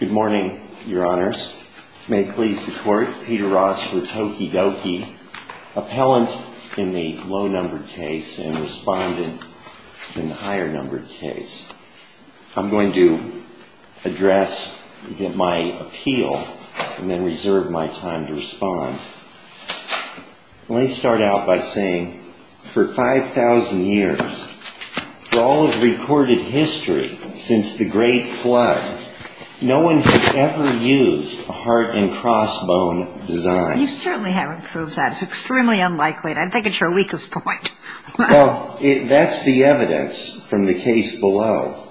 Good morning, Your Honors. May it please the Court, Peter Ross with Hokidoki, appellant in the low-numbered case and respondent in the higher-numbered case. I'm going to address my appeal and then reserve my time to respond. Let me start out by saying, for 5,000 years, for all of recorded history, since the Great Flood, no one has ever used a heart-and-crossbone design. You certainly haven't proved that. It's extremely unlikely, and I think it's your weakest point. Well, that's the evidence from the case below.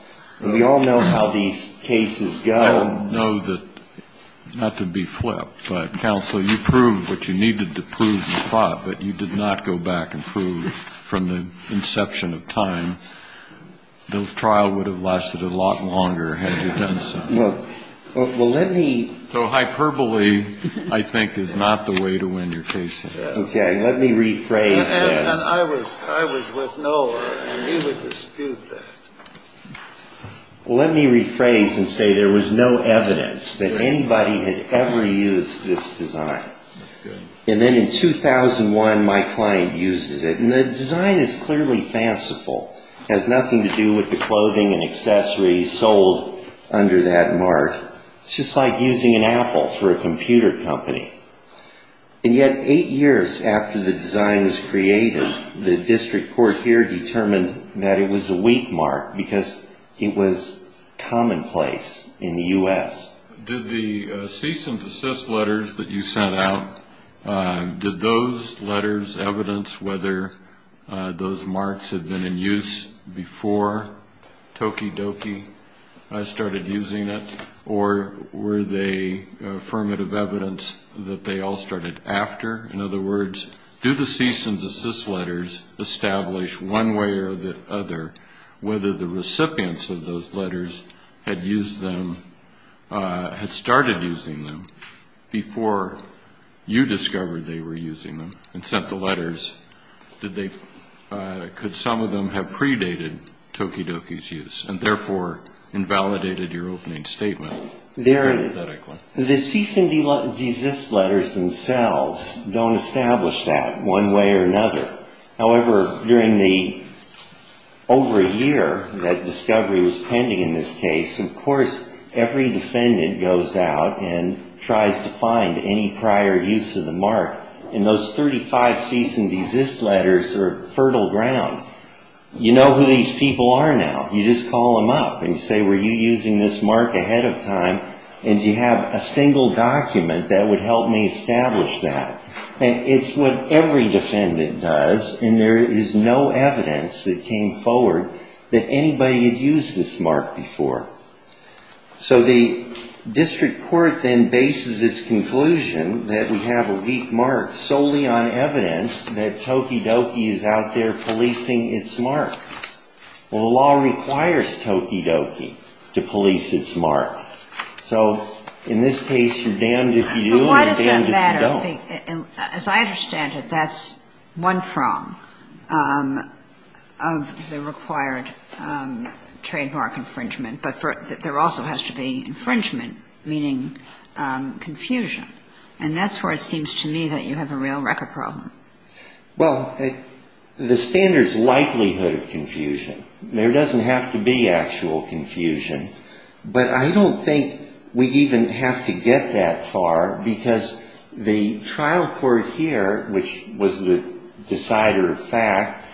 We all know how these cases go. I don't know that, not to be flipped, but, Counselor, you proved what you needed to prove and thought, but you did not go back and prove from the inception of time. The trial would have lasted a lot longer had you done so. So hyperbole, I think, is not the way to win your cases. Let me rephrase that. I was with Noah, and we would dispute that. Let me rephrase and say there was no evidence that anybody had ever used this design. And then in 2001, my client uses it. And the design is clearly fanciful. It has nothing to do with the clothing and accessories sold under that mark. It's just like using an Apple for a computer company. And yet, eight years after the design was created, the district court here determined that it was a weak mark because it was commonplace in the U.S. Did the cease and desist letters that you sent out, did those letters evidence whether those marks had been in use before Tokidoki started using it? Or were they affirmative evidence that they all started after? In other words, do the cease and desist letters establish, one way or the other, whether the recipients of those letters had started using them before you discovered they were using them and sent the letters? Could some of them have predated Tokidoki's use and therefore invalidated your opening statement? The cease and desist letters themselves don't establish that one way or another. However, during the over a year that discovery was pending in this case, of course, every defendant goes out and tries to find any prior use of the mark. And those 35 cease and desist letters are fertile ground. You know who these people are now. You just call them up and say, were you using this mark ahead of time? And do you have a single document that would help me establish that? And it's what every defendant does. And there is no evidence that came forward that anybody had used this mark before. So the district court then bases its conclusion that we have a weak mark solely on evidence that Tokidoki is out there policing its mark. Well, the law requires Tokidoki to police its mark. So in this case, you're damned if you do or damned if you don't. As I understand it, that's one prong of the required trademark infringement. But there also has to be infringement, meaning confusion. And that's where it seems to me that you have a real record problem. Well, the standard's likelihood of confusion. There doesn't have to be actual confusion. But I don't think we even have to get that far because the trial court here, which was the decider of fact,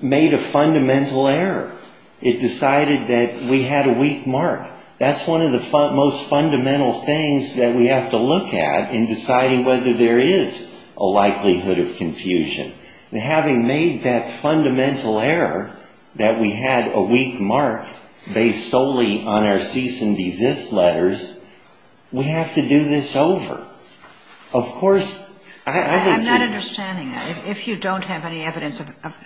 made a fundamental error. It decided that we had a weak mark. That's one of the most fundamental things that we have to look at in deciding whether there is a likelihood of confusion. And having made that fundamental error that we had a weak mark based solely on our cease and desist letters, we have to do this over. Of course, I don't think... I'm not understanding that. If you don't have any evidence of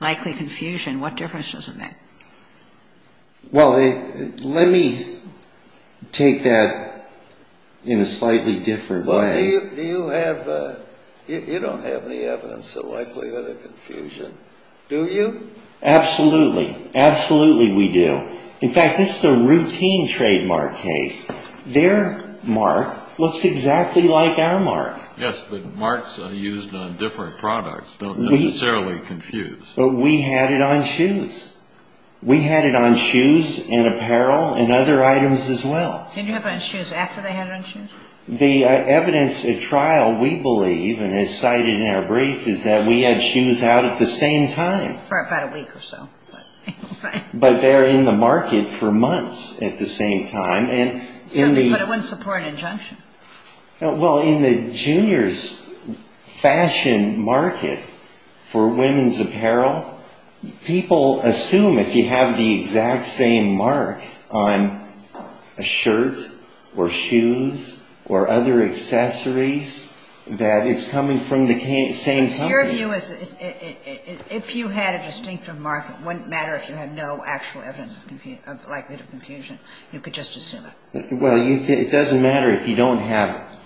likely confusion, what difference does it make? Well, let me take that in a slightly different way. You don't have any evidence of likelihood of confusion, do you? Absolutely. Absolutely we do. In fact, this is a routine trademark case. Their mark looks exactly like our mark. Yes, but marks used on different products don't necessarily confuse. But we had it on shoes. We had it on shoes and apparel and other items as well. Didn't you have it on shoes after they had it on shoes? The evidence at trial, we believe, and it's cited in our brief, is that we had shoes out at the same time. For about a week or so. But they're in the market for months at the same time. Well, in the junior's fashion market for women's apparel, people assume if you have the exact same mark on a shirt or shoes or other accessories that it's coming from the same company. Your view is if you had a distinctive mark, it wouldn't matter if you had no actual evidence of likelihood of confusion. You could just assume it. Well, it doesn't matter if you don't have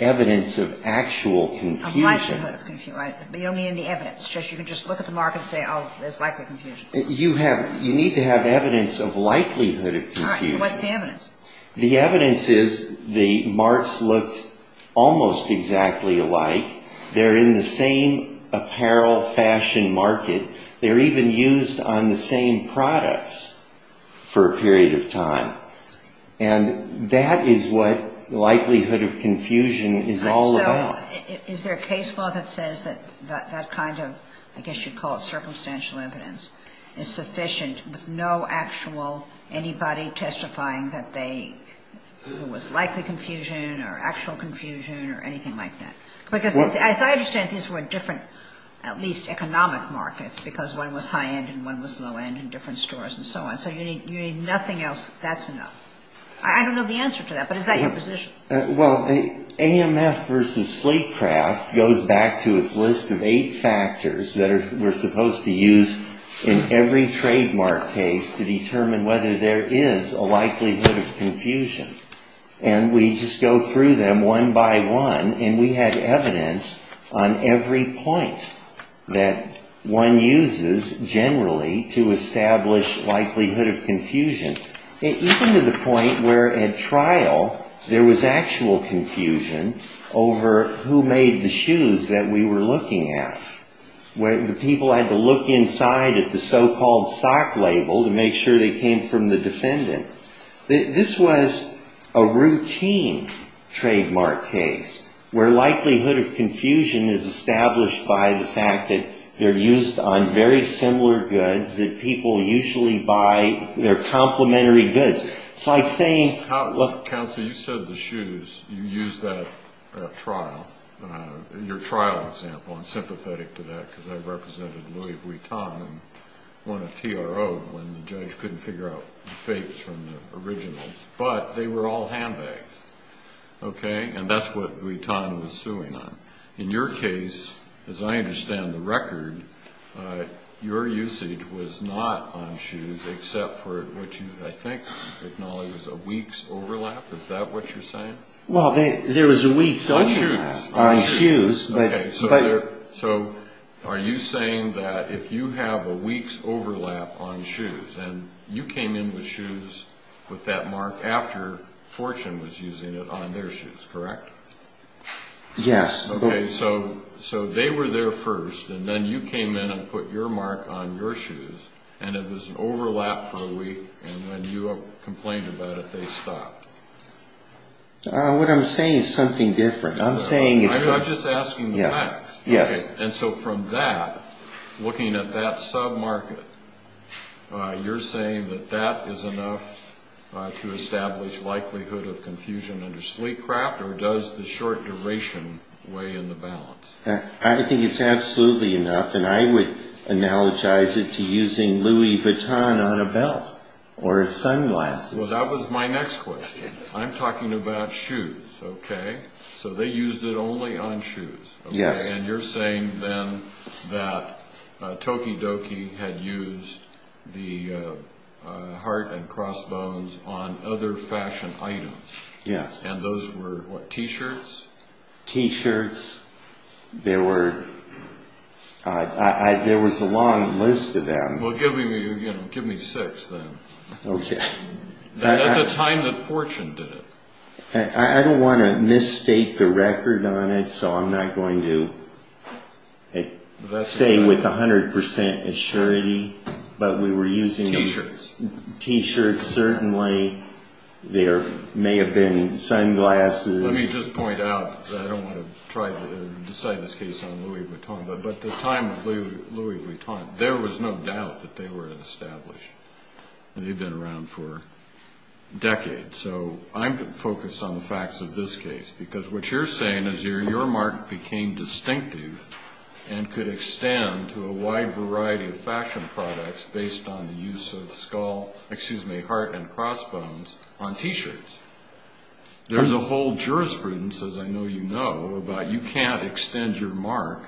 evidence of actual confusion. Of likelihood of confusion. But you don't need any evidence. You can just look at the mark and say, oh, there's likelihood of confusion. You need to have evidence of likelihood of confusion. All right. So what's the evidence? The evidence is the marks looked almost exactly alike. They're in the same apparel fashion market. They're even used on the same products for a period of time. And that is what likelihood of confusion is all about. So is there a case law that says that that kind of, I guess you'd call it circumstantial evidence, is sufficient with no actual anybody testifying that there was likely confusion or actual confusion or anything like that? Because as I understand it, these were different, at least economic markets, because one was high end and one was low end in different stores and so on. So you need nothing else. That's enough. I don't know the answer to that, but is that your position? Well, AMF versus Sleepcraft goes back to its list of eight factors that we're supposed to use in every trademark case to determine whether there is a likelihood of confusion. And we just go through them one by one, and we have evidence on every point that one uses generally to establish likelihood of confusion. Even to the point where at trial there was actual confusion over who made the shoes that we were looking at, where the people had to look inside at the so-called sock label to make sure they came from the defendant. This was a routine trademark case where likelihood of confusion is established by the fact that they're used on very similar goods, that people usually buy their complementary goods. Counsel, you said the shoes. You used that at trial, your trial example. I'm sympathetic to that because I represented Louis Vuitton and won a TRO when the judge couldn't figure out the fakes from the originals. But they were all handbags, okay? And that's what Vuitton was suing on. In your case, as I understand the record, your usage was not on shoes except for what you, I think, acknowledge as a week's overlap. Is that what you're saying? Well, there was a week's overlap on shoes. Okay, so are you saying that if you have a week's overlap on shoes, and you came in with shoes with that mark after Fortune was using it on their shoes, correct? Yes. Okay, so they were there first, and then you came in and put your mark on your shoes, and it was an overlap for a week, and when you complained about it, they stopped. What I'm saying is something different. I'm just asking the facts. Yes. And so from that, looking at that sub-market, you're saying that that is enough to establish likelihood of confusion under sleep craft, or does the short duration weigh in the balance? I think it's absolutely enough, and I would analogize it to using Louis Vuitton on a belt or sunglasses. Well, that was my next question. I'm talking about shoes, okay? So they used it only on shoes. Yes. And you're saying, then, that Tokidoki had used the heart and crossbones on other fashion items. Yes. And those were, what, t-shirts? T-shirts. There was a long list of them. Well, give me six, then. Okay. At the time that Fortune did it. I don't want to misstate the record on it, so I'm not going to say with 100% assurity, but we were using t-shirts, certainly. There may have been sunglasses. Let me just point out that I don't want to try to decide this case on Louis Vuitton, but at the time of Louis Vuitton, there was no doubt that they were an established. They've been around for decades. So I'm focused on the facts of this case, because what you're saying is your mark became distinctive and could extend to a wide variety of fashion products based on the use of heart and crossbones on t-shirts. There's a whole jurisprudence, as I know you know, about you can't extend your mark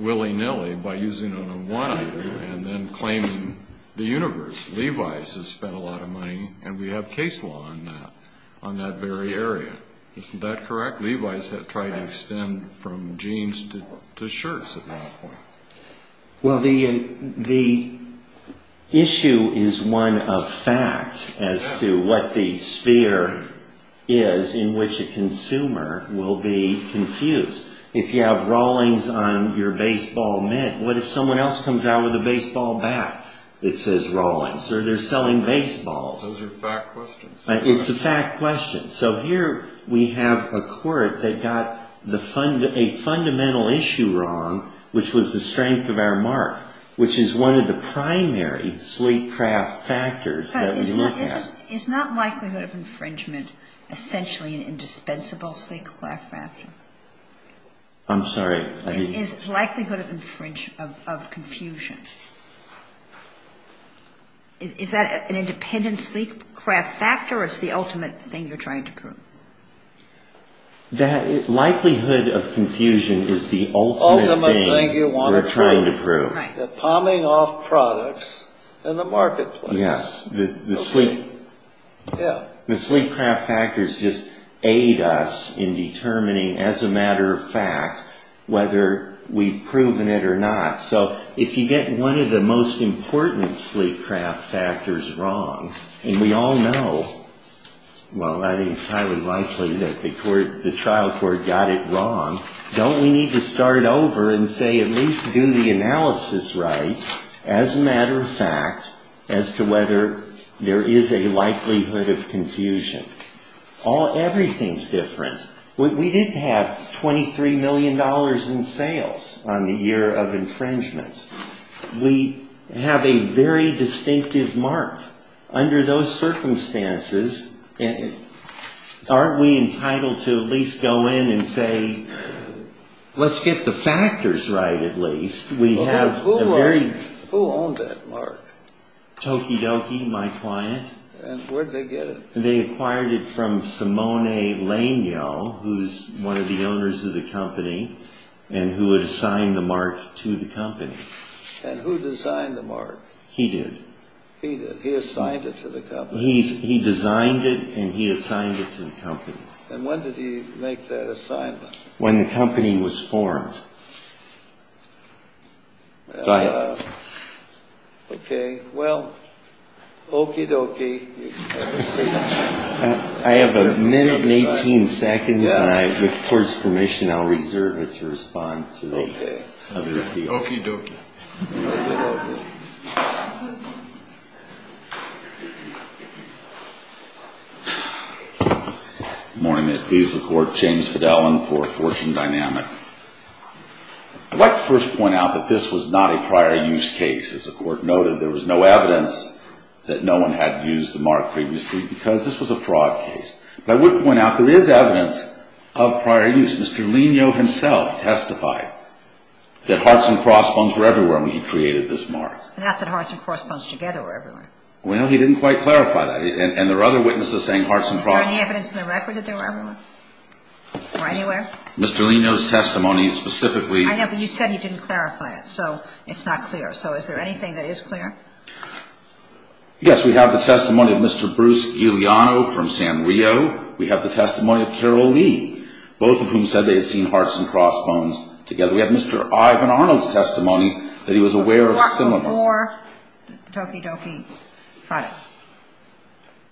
willy-nilly by using it on one item and then claiming the universe. Levi's has spent a lot of money, and we have case law on that very area. Isn't that correct? Levi's had tried to extend from jeans to shirts at that point. Well, the issue is one of fact as to what the sphere is in which a consumer will be confused. If you have Rawlings on your baseball mitt, what if someone else comes out with a baseball bat that says Rawlings, or they're selling baseballs? Those are fact questions. It's a fact question. So here we have a court that got a fundamental issue wrong, which was the strength of our mark, which is one of the primary sleep-craft factors that we look at. Is not likelihood of infringement essentially an indispensable sleep-craft factor? I'm sorry? Likelihood of confusion. Is that an independent sleep-craft factor, or is it the ultimate thing you're trying to prove? Likelihood of confusion is the ultimate thing you're trying to prove. The palming off products in the marketplace. Yes, the sleep-craft factors just aid us in determining, as a matter of fact, whether we've proven it or not. So if you get one of the most important sleep-craft factors wrong, and we all know, well, I think it's highly likely that the trial court got it wrong, don't we need to start over and say, at least do the analysis right, as a matter of fact, as to whether there is a likelihood of confusion? Everything's different. We did have $23 million in sales on the year of infringement. We have a very distinctive mark. Under those circumstances, aren't we entitled to at least go in and say, let's get the factors right, at least. Who owned that mark? Tokidoki, my client. And where'd they get it? They acquired it from Simone Lanyo, who's one of the owners of the company, and who had assigned the mark to the company. And who designed the mark? He did. He did. He assigned it to the company. He designed it, and he assigned it to the company. And when did he make that assignment? When the company was formed. Okay, well, okidoki. I have a minute and 18 seconds, and with court's permission, I'll reserve it to respond to the other appeals. Okidoki. Good morning. Please support James Fidellin for Fortune Dynamic. I'd like to first point out that this was not a prior use case. As the court noted, there was no evidence that no one had used the mark previously, because this was a fraud case. But I would point out that there is evidence of prior use. Mr. Lanyo himself testified that hearts and crossbones were everywhere when he created this mark. But not that hearts and crossbones together were everywhere. Well, he didn't quite clarify that. And there are other witnesses saying hearts and crossbones... Is there any evidence in the record that they were everywhere? Or anywhere? Mr. Lanyo's testimony specifically... I know, but you said he didn't clarify it, so it's not clear. So is there anything that is clear? Yes, we have the testimony of Mr. Bruce Iuliano from San Rio. We have the testimony of Carol Lee, both of whom said they had seen hearts and crossbones together. We have Mr. Ivan Arnold's testimony that he was aware of similar... Before Tokidoki Friday.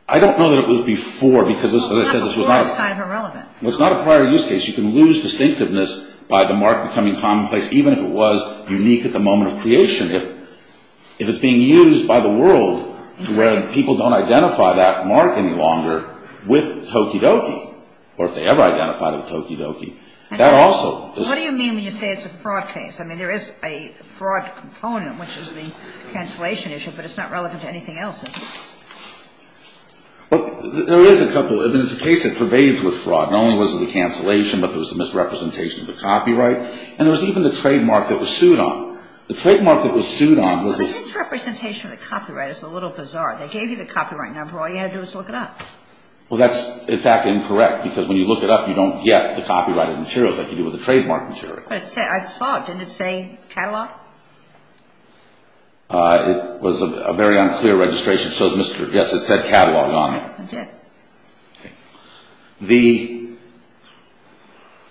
I don't know that it was before, because as I said, this was not... Well, it's not before. It's kind of irrelevant. Well, it's not a prior use case. You can lose distinctiveness by the mark becoming commonplace, even if it was unique at the moment of creation. If it's being used by the world to where people don't identify that mark any longer with Tokidoki, or if they ever identified it with Tokidoki, that also... What do you mean when you say it's a fraud case? I mean, there is a fraud component, which is the cancellation issue, but it's not relevant to anything else, is it? Well, there is a couple. I mean, it's a case that pervades with fraud. Not only was it the cancellation, but there was a misrepresentation of the copyright. And there was even the trademark that was sued on. The trademark that was sued on was... A misrepresentation of the copyright is a little bizarre. They gave you the copyright number. All you had to do was look it up. Well, that's, in fact, incorrect, because when you look it up, you don't get the copyrighted materials like you do with the trademark materials. But I saw it. Didn't it say catalog? It was a very unclear registration. So, yes, it said catalog on it. Okay. The...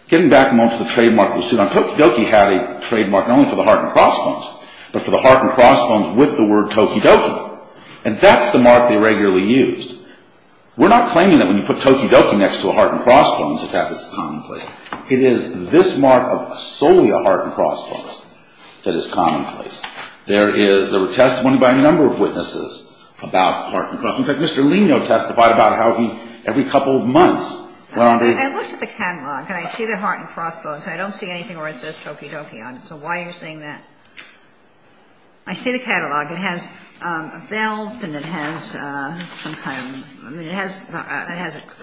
Getting back to the trademark that was sued on, Tokidoki had a trademark not only for the heart and crossbones, but for the heart and crossbones with the word Tokidoki. And that's the mark they regularly used. We're not claiming that when you put Tokidoki next to a heart and crossbones. In fact, this is commonplace. It is this mark of solely a heart and crossbones that is commonplace. There were testimony by a number of witnesses about heart and crossbones. In fact, Mr. Lino testified about how he, every couple of months, went on to... I looked at the catalog, and I see the heart and crossbones. I don't see anything where it says Tokidoki on it. So why are you saying that? I see the catalog. It has a belt, and it has some kind of... I mean, it has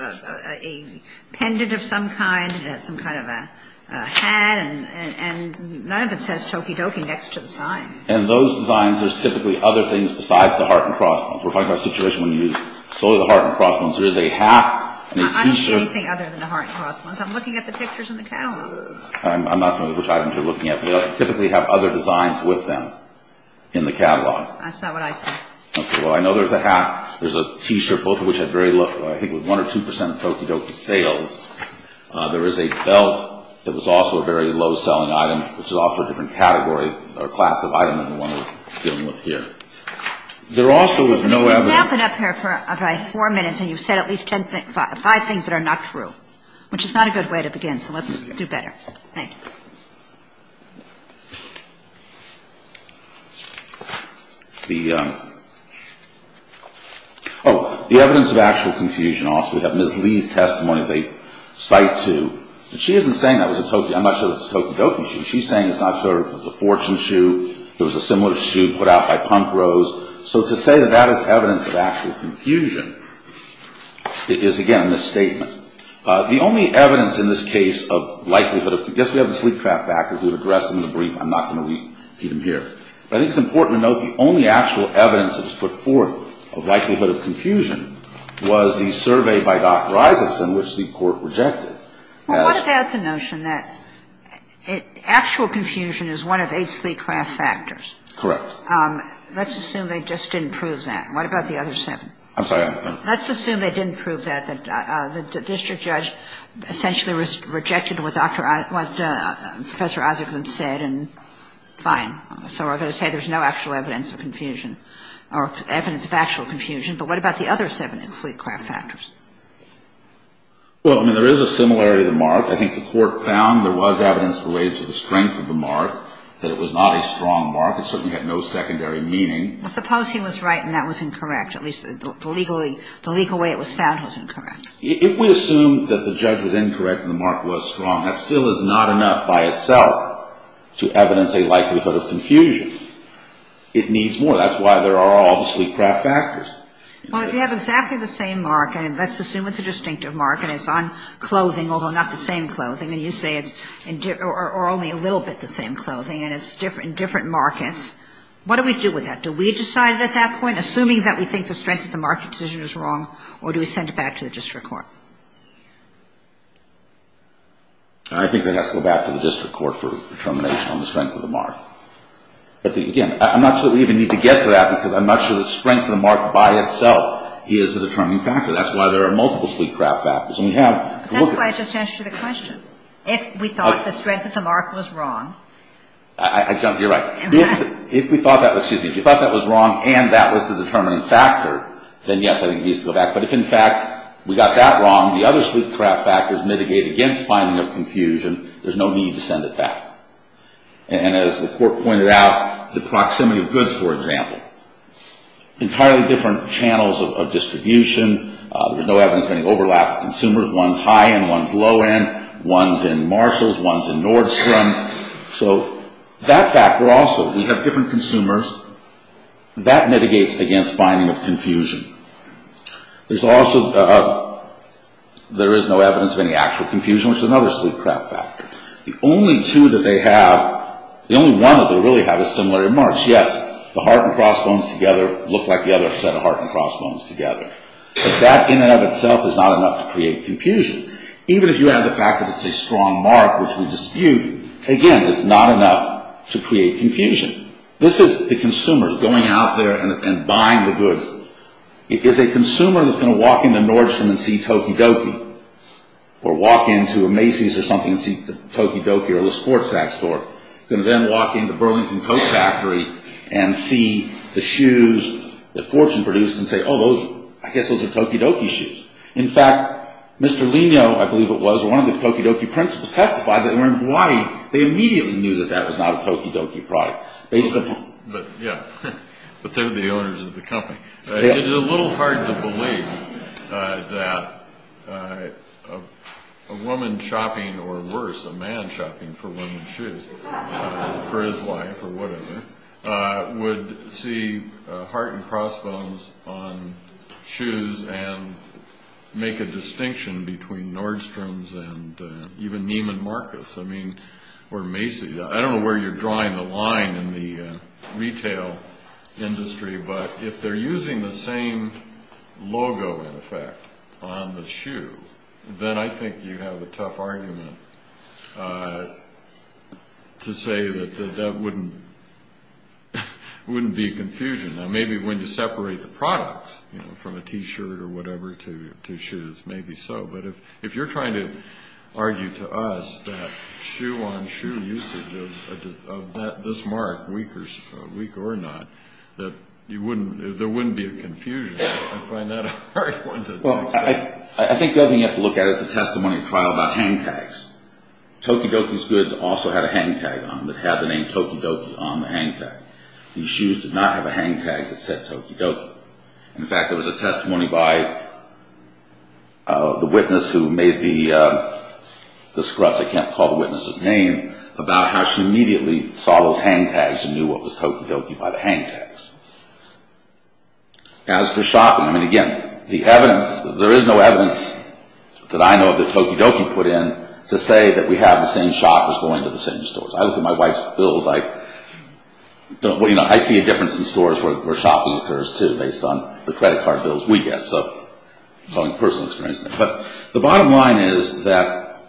a pendant of some kind. It has some kind of a hat. And none of it says Tokidoki next to the sign. In those designs, there's typically other things besides the heart and crossbones. We're talking about a situation when you saw the heart and crossbones. There is a hat and a T-shirt. I don't see anything other than the heart and crossbones. I'm looking at the pictures in the catalog. I'm not sure which items you're looking at. They typically have other designs with them in the catalog. That's not what I saw. Okay. Well, I know there's a hat. There's a T-shirt, both of which had very low... I think it was 1% or 2% of Tokidoki sales. There is a belt that was also a very low-selling item, which is also a different category or class of item than the one we're dealing with here. There also was no evidence... You've been ramping up here for about four minutes, and you've said at least five things that are not true, which is not a good way to begin, so let's do better. All right. The... Oh, the evidence of actual confusion also. We have Ms. Lee's testimony that they cite to. She isn't saying that it was a Tokidoki. I'm not sure that it's a Tokidoki shoe. She's saying it's not sure if it's a fortune shoe. There was a similar shoe put out by Punk Rose. So to say that that is evidence of actual confusion is, again, a misstatement. The only evidence in this case of likelihood of... Yes, we have the Sleekcraft factors. We've addressed them in the brief. I'm not going to repeat them here. But I think it's important to note the only actual evidence that was put forth of likelihood of confusion was the survey by Dr. Isaacson, which the Court rejected. Well, what about the notion that actual confusion is one of eight Sleekcraft factors? Correct. Let's assume they just didn't prove that. What about the other seven? I'm sorry. Let's assume they didn't prove that, that the district judge essentially rejected what Professor Isaacson said, and fine. So we're going to say there's no actual evidence of confusion or evidence of actual confusion. But what about the other seven Sleekcraft factors? Well, I mean, there is a similarity to the mark. I think the Court found there was evidence related to the strength of the mark, that it was not a strong mark. It certainly had no secondary meaning. Well, suppose he was right and that was incorrect. At least the legal way it was found was incorrect. If we assume that the judge was incorrect and the mark was strong, that still is not enough by itself to evidence a likelihood of confusion. It needs more. That's why there are all the Sleekcraft factors. Well, if you have exactly the same mark, and let's assume it's a distinctive mark and it's on clothing, although not the same clothing, and you say it's only a little bit the same clothing and it's in different markets, what do we do with that? Do we decide it at that point? Assuming that we think the strength of the mark decision is wrong, or do we send it back to the district court? I think that has to go back to the district court for determination on the strength of the mark. But, again, I'm not sure that we even need to get to that because I'm not sure the strength of the mark by itself is a determining factor. That's why there are multiple Sleekcraft factors. That's why I just answered the question. If we thought the strength of the mark was wrong. You're right. If we thought that was wrong and that was the determining factor, then, yes, I think it needs to go back. But if, in fact, we got that wrong, the other Sleekcraft factors mitigate against finding of confusion, there's no need to send it back. And as the court pointed out, the proximity of goods, for example. Entirely different channels of distribution. There's no evidence of any overlap with consumers. One's high-end, one's low-end. One's in Marshalls, one's in Nordstrom. So that factor also. We have different consumers. That mitigates against finding of confusion. There is no evidence of any actual confusion, which is another Sleekcraft factor. The only two that they have, the only one that they really have is similar in marks. Yes, the heart and crossbones together look like the other set of heart and crossbones together. But that in and of itself is not enough to create confusion. Even if you have the fact that it's a strong mark, which we dispute, again, it's not enough to create confusion. This is the consumers going out there and buying the goods. Is a consumer that's going to walk into Nordstrom and see Tokidoki, or walk into a Macy's or something and see Tokidoki or the sports sacks store, going to then walk into Burlington Coat Factory and see the shoes that Fortune produced and say, oh, I guess those are Tokidoki shoes. In fact, Mr. Lino, I believe it was, or one of the Tokidoki principals testified that they were in Hawaii. They immediately knew that that was not a Tokidoki product. But they were the owners of the company. It is a little hard to believe that a woman shopping, or worse, a man shopping for women's shoes, for his wife or whatever, would see heart and crossbones on shoes and make a distinction between Nordstrom's and even Neiman Marcus or Macy's. I don't know where you're drawing the line in the retail industry, but if they're using the same logo, in effect, on the shoe, then I think you have a tough argument to say that that wouldn't be a confusion. Now, maybe when you separate the products from a T-shirt or whatever to shoes, maybe so. But if you're trying to argue to us that shoe-on-shoe usage of this mark, weak or not, that there wouldn't be a confusion, I find that a hard one to accept. I think the other thing you have to look at is the testimony trial about hang tags. Tokidoki's goods also had a hang tag on them that had the name Tokidoki on the hang tag. These shoes did not have a hang tag that said Tokidoki. In fact, there was a testimony by the witness who made the scrubs, I can't recall the witness's name, about how she immediately saw those hang tags and knew what was Tokidoki by the hang tags. As for shopping, I mean, again, there is no evidence that I know that Tokidoki put in to say that we have the same shoppers going to the same stores. I look at my wife's bills. I see a difference in stores where shopping occurs, too, based on the credit card bills we get. So it's only a personal experience. But the bottom line is that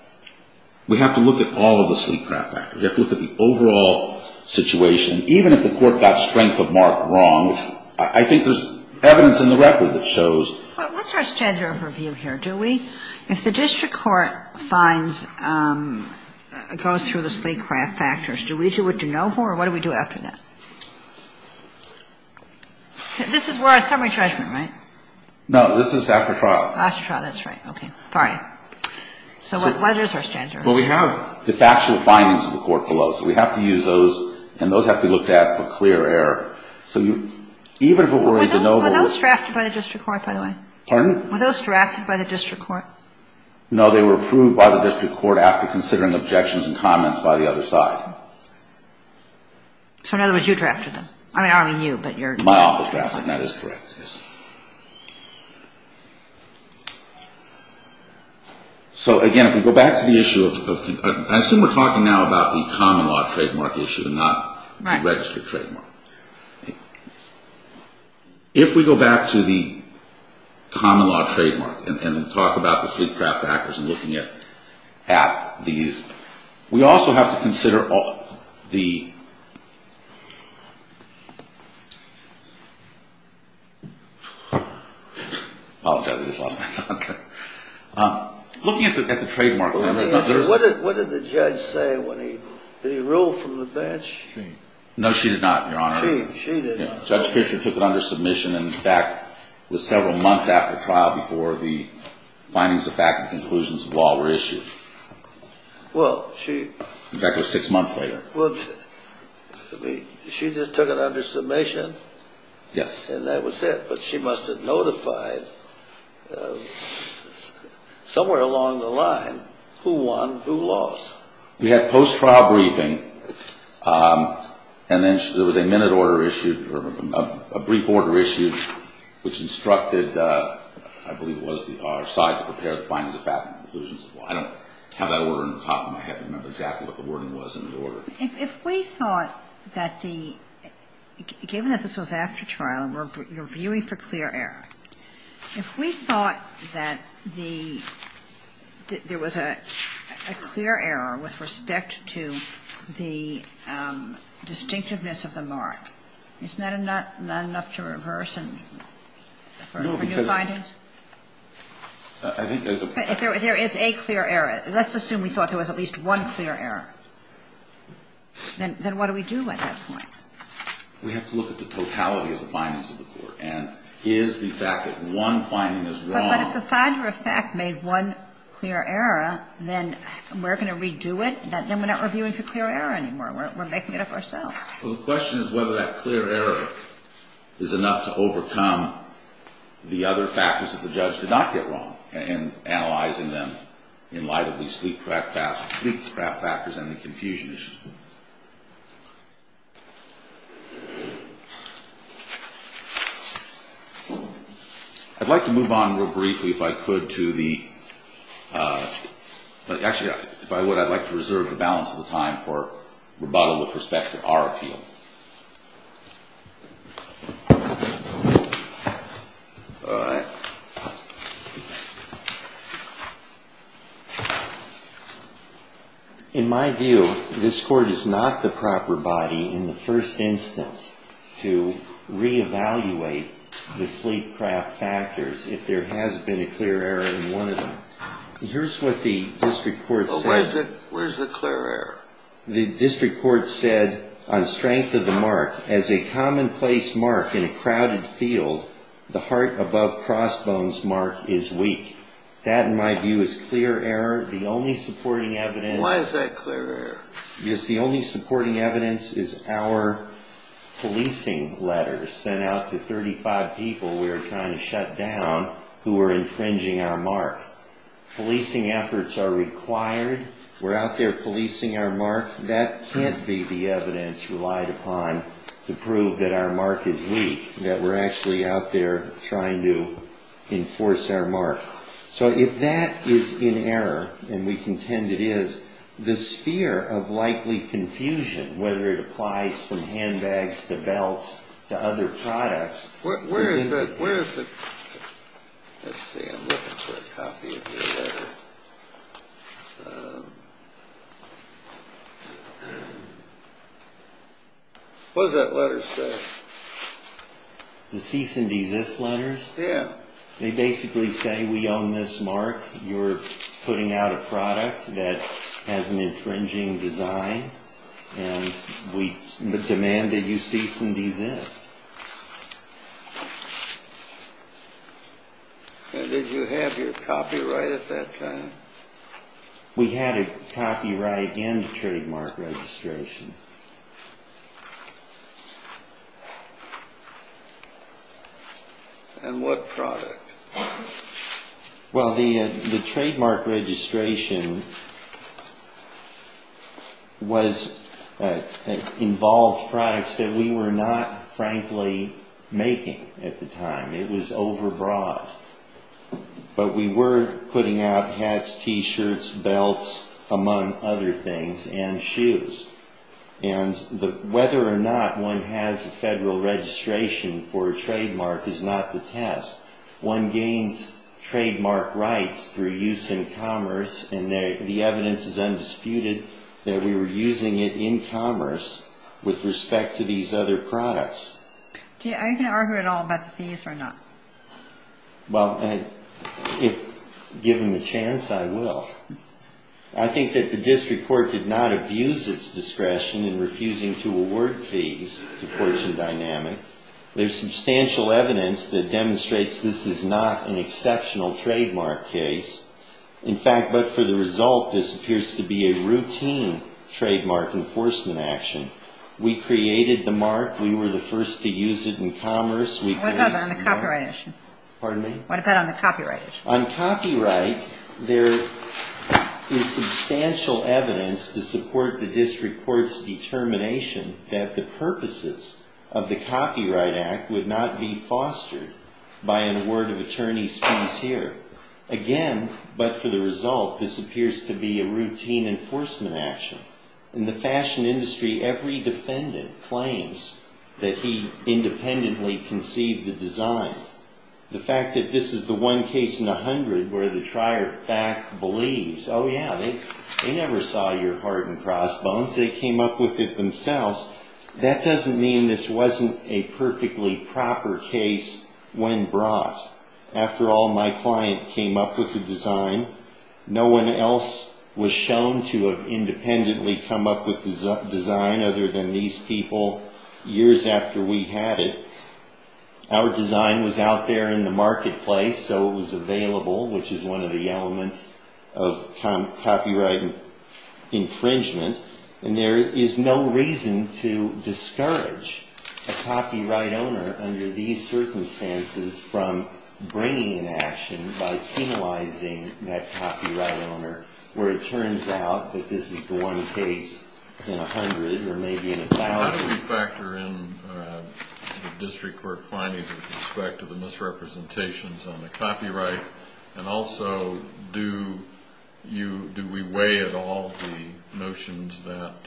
we have to look at all of the sleep craft factors. We have to look at the overall situation. Even if the court got strength of mark wrong, which I think there's evidence in the record that shows. But what's our standard of review here? Do we? If the district court finds, goes through the sleep craft factors, do we do it to no more or what do we do after that? This is where our summary judgment, right? No, this is after trial. After trial, that's right. Okay. Sorry. So what is our standard? Well, we have the factual findings of the court below. So we have to use those and those have to be looked at for clear error. So even if it were a no vote. Were those drafted by the district court, by the way? Pardon? Were those drafted by the district court? No, they were approved by the district court after considering objections and comments by the other side. So in other words, you drafted them. I mean, I don't mean you, but your... My office drafted them. That is correct, yes. So again, if we go back to the issue of, I assume we're talking now about the common law trademark issue and not the registered trademark. If we go back to the common law trademark and talk about the sleep craft factors and looking at these, we also have to consider the... Apologize, I just lost my thought there. Looking at the trademark... What did the judge say when he ruled from the bench? No, she did not, Your Honor. She did not. Judge Fisher took it under submission and in fact, was several months after trial before the findings of fact and conclusions of law were issued. Well, she... In fact, it was six months later. Well, she just took it under submission? Yes. And that was it. But she must have notified somewhere along the line who won, who lost. We had post-trial briefing and then there was a minute order issued, a brief order issued, which instructed, I believe it was, our side to prepare the findings of fact and conclusions of law. I don't have that order in the top of my head. I don't remember exactly what the wording was in the order. If we thought that the... Given that this was after trial and we're viewing for clear error, if we thought that the... There was a clear error with respect to the distinctiveness of the mark. Isn't that not enough to reverse and... No, because... ...for new findings? I think... If there is a clear error, let's assume we thought there was at least one clear error. Then what do we do at that point? We have to look at the totality of the findings of the court. And is the fact that one finding is wrong... But if the finder of fact made one clear error, then we're going to redo it? Then we're not reviewing for clear error anymore. We're making it up ourselves. Well, the question is whether that clear error is enough to overcome the other factors that the judge did not get wrong in analyzing them in light of these sleep-craft factors and the confusion issues. I'd like to move on real briefly, if I could, to the... Actually, if I would, I'd like to reserve the balance of the time for rebuttal with respect to our appeal. In my view, this court is not the proper body in the first instance to re-evaluate the sleep-craft factors if there has been a clear error in one of them. Here's what the district court said... Well, where's the clear error? The district court said, on strength of the mark, as a commonplace mark in a crowded field, the heart above crossbones mark is weak. That, in my view, is clear error. The only supporting evidence... Why is that clear error? Yes, the only supporting evidence is our policing letters sent out to 35 people we were trying to shut down who were infringing our mark. Policing efforts are required. We're out there policing our mark. That can't be the evidence relied upon to prove that our mark is weak, that we're actually out there trying to enforce our mark. So if that is in error, and we contend it is, the sphere of likely confusion, whether it applies from handbags to belts to other products... Let's see, I'm looking for a copy of your letter. What does that letter say? The cease and desist letters? Yeah. They basically say, we own this mark, you're putting out a product that has an infringing design, and we demand that you cease and desist. Did you have your copyright at that time? We had a copyright and trademark registration. And what product? Well, the trademark registration involved products that we were not, frankly, making at the time. It was overbroad. But we were putting out hats, t-shirts, belts, among other things, and shoes. And whether or not one has a federal registration for a trademark is not the test. One gains trademark rights through use in commerce, and the evidence is undisputed that we were using it in commerce with respect to these other products. Are you going to argue at all about the fees or not? Well, if given the chance, I will. I think that the district court did not abuse its discretion in refusing to award fees to Fortune Dynamic. There's substantial evidence that demonstrates this is not an exceptional trademark case. In fact, but for the result, this appears to be a routine trademark enforcement action. We created the mark. We were the first to use it in commerce. What about on the copyright issue? Pardon me? What about on the copyright issue? On copyright, there is substantial evidence to support the district court's determination that the purposes of the Copyright Act would not be fostered by an award of attorney's fees here. Again, but for the result, this appears to be a routine enforcement action. In the fashion industry, every defendant claims that he independently conceived the design. The fact that this is the one case in a hundred where the trier fact believes, oh yeah, they never saw your heart and crossbones. They came up with it themselves. That doesn't mean this wasn't a perfectly proper case when brought. After all, my client came up with the design. No one else was shown to have independently come up with the design other than these people years after we had it. Our design was out there in the marketplace, so it was available, which is one of the elements of copyright infringement. And there is no reason to discourage a copyright owner under these circumstances from bringing an action by penalizing that copyright owner where it turns out that this is the one case in a hundred or maybe in a thousand. Well, how do we factor in the district court findings with respect to the misrepresentations on the copyright? And also, do we weigh at all the notions that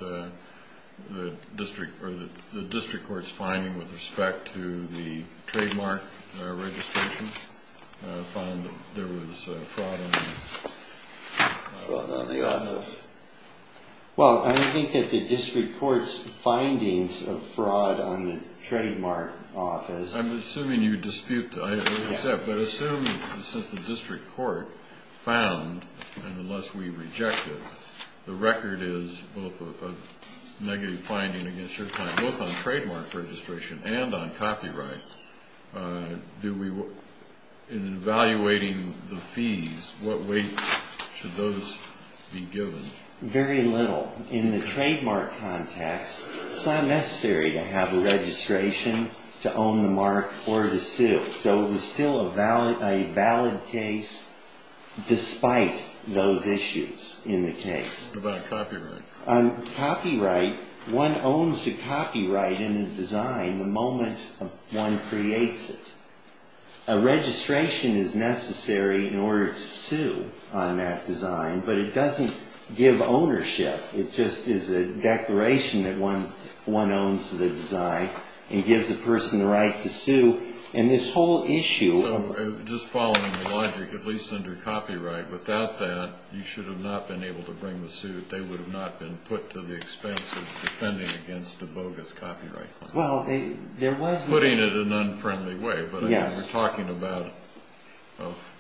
the district court's findings with respect to the trademark registration find that there was fraud on the office? Well, I don't think that the district court's findings of fraud on the trademark office... I'm assuming you dispute that. But assume since the district court found, and unless we reject it, the record is both a negative finding against your client, both on trademark registration and on copyright. In evaluating the fees, what weight should those be given? Very little. In the trademark context, it's not necessary to have a registration to own the mark or to sue. So it was still a valid case despite those issues in the case. What about copyright? On copyright, one owns the copyright in the design the moment one creates it. A registration is necessary in order to sue on that design, but it doesn't give ownership. It just is a declaration that one owns the design and gives the person the right to sue. Just following the logic, at least under copyright, without that, you should have not been able to bring the suit. They would have not been put to the expense of defending against a bogus copyright claim. Putting it in an unfriendly way, but we're talking about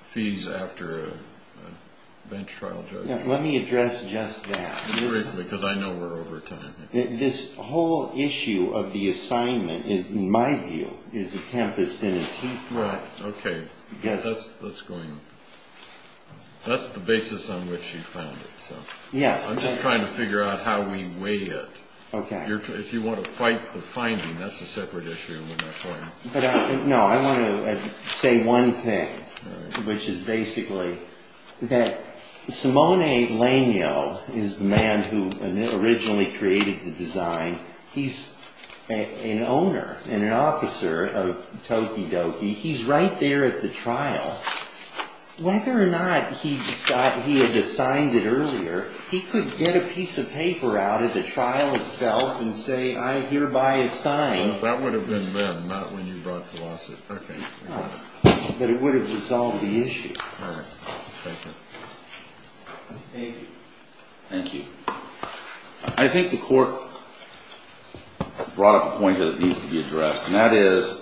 fees after a bench trial judgment. Let me address just that. Because I know we're over time. This whole issue of the assignment, in my view, is a tempest in a teapot. That's the basis on which you found it. I'm just trying to figure out how we weigh it. If you want to fight the finding, that's a separate issue. I want to say one thing, which is basically that Simone Lanio is the man who originally created the design. He's an owner and an officer of Tokidoki. He's right there at the trial. Whether or not he had assigned it earlier, he could get a piece of paper out at the trial itself and say, I hereby assign. That would have been then, not when you brought the lawsuit. Okay. But it would have resolved the issue. All right. Thank you. Thank you. Thank you. I think the court brought up a point that needs to be addressed, and that is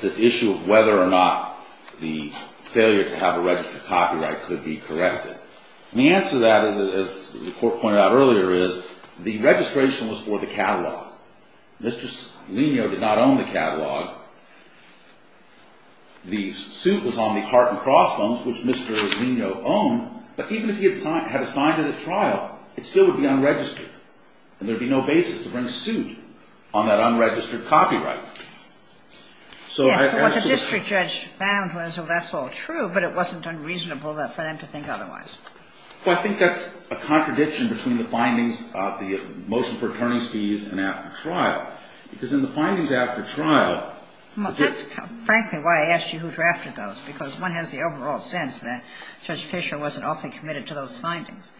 this issue of whether or not the failure to have a registered copyright could be corrected. And the answer to that, as the court pointed out earlier, is the registration was for the catalog. Mr. Lanio did not own the catalog. The suit was on the heart and crossbones, which Mr. Lanio owned. But even if he had assigned it at trial, it still would be unregistered, and there would be no basis to bring suit on that unregistered copyright. Yes, but what the district judge found was, well, that's all true, but it wasn't unreasonable for them to think otherwise. Well, I think that's a contradiction between the findings of the motion for attorney's fees and after trial. Because in the findings after trial, Well, that's frankly why I asked you who drafted those, because one has the overall sense that Judge Fischer wasn't awfully committed to those findings.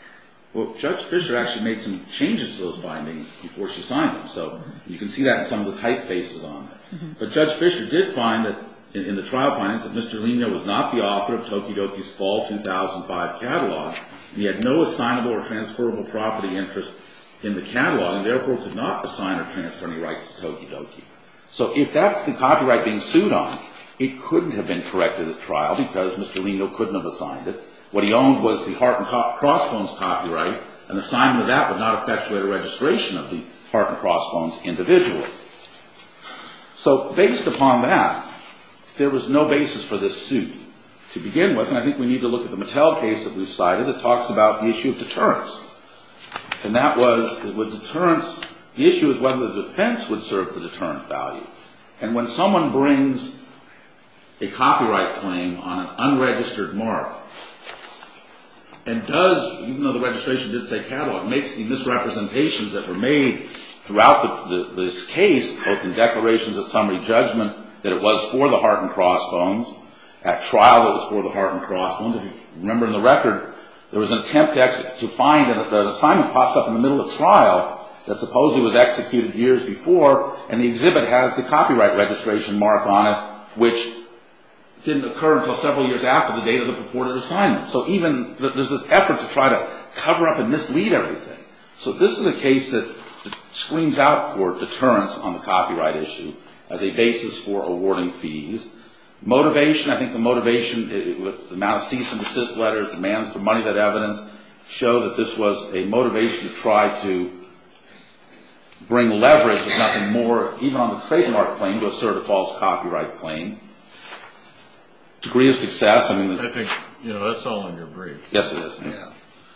Well, Judge Fischer actually made some changes to those findings before she signed them. So you can see that in some of the typefaces on there. But Judge Fischer did find that in the trial findings that Mr. Lanio was not the author of Tokidoki's fall 2005 catalog. He had no assignable or transferable property interest in the catalog, and therefore could not assign or transfer any rights to Tokidoki. So if that's the copyright being sued on, it couldn't have been corrected at trial because Mr. Lanio couldn't have assigned it. What he owned was the Hartman Crossbones copyright. An assignment of that would not effectuate a registration of the Hartman Crossbones individually. So based upon that, there was no basis for this suit to begin with. And I think we need to look at the Mattel case that we've cited. It talks about the issue of deterrence. And that was, with deterrence, the issue is whether the defense would serve the deterrent value. And when someone brings a copyright claim on an unregistered mark and does, even though the registration did say catalog, makes the misrepresentations that were made throughout this case, both in declarations of summary judgment that it was for the Hartman Crossbones, at trial it was for the Hartman Crossbones. Remember in the record, there was an attempt to find, and the assignment pops up in the middle of trial that supposedly was executed years before, and the exhibit has the copyright registration mark on it, which didn't occur until several years after the date of the purported assignment. So even, there's this effort to try to cover up and mislead everything. So this is a case that screens out for deterrence on the copyright issue as a basis for awarding fees. Motivation, I think the motivation, the amount of cease and desist letters, demands for money that evidence, show that this was a motivation to try to bring leverage, even on the trademark claim, to assert a false copyright claim. Degree of success. I think that's all in your briefs. Yes, it is.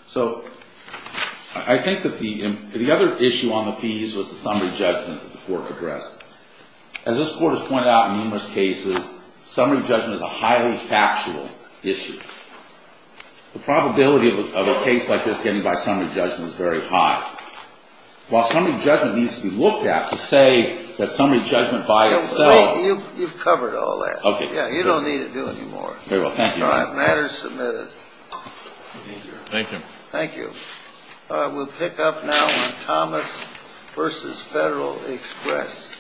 So I think that the other issue on the fees was the summary judgment that the court addressed. As this court has pointed out in numerous cases, summary judgment is a highly factual issue. The probability of a case like this getting by summary judgment is very high. While summary judgment needs to be looked at to say that summary judgment by itself. You've covered all that. Okay. Yeah, you don't need to do any more. Very well, thank you. All right, matters submitted. Thank you. Thank you. We'll pick up now on Thomas v. Federal Express.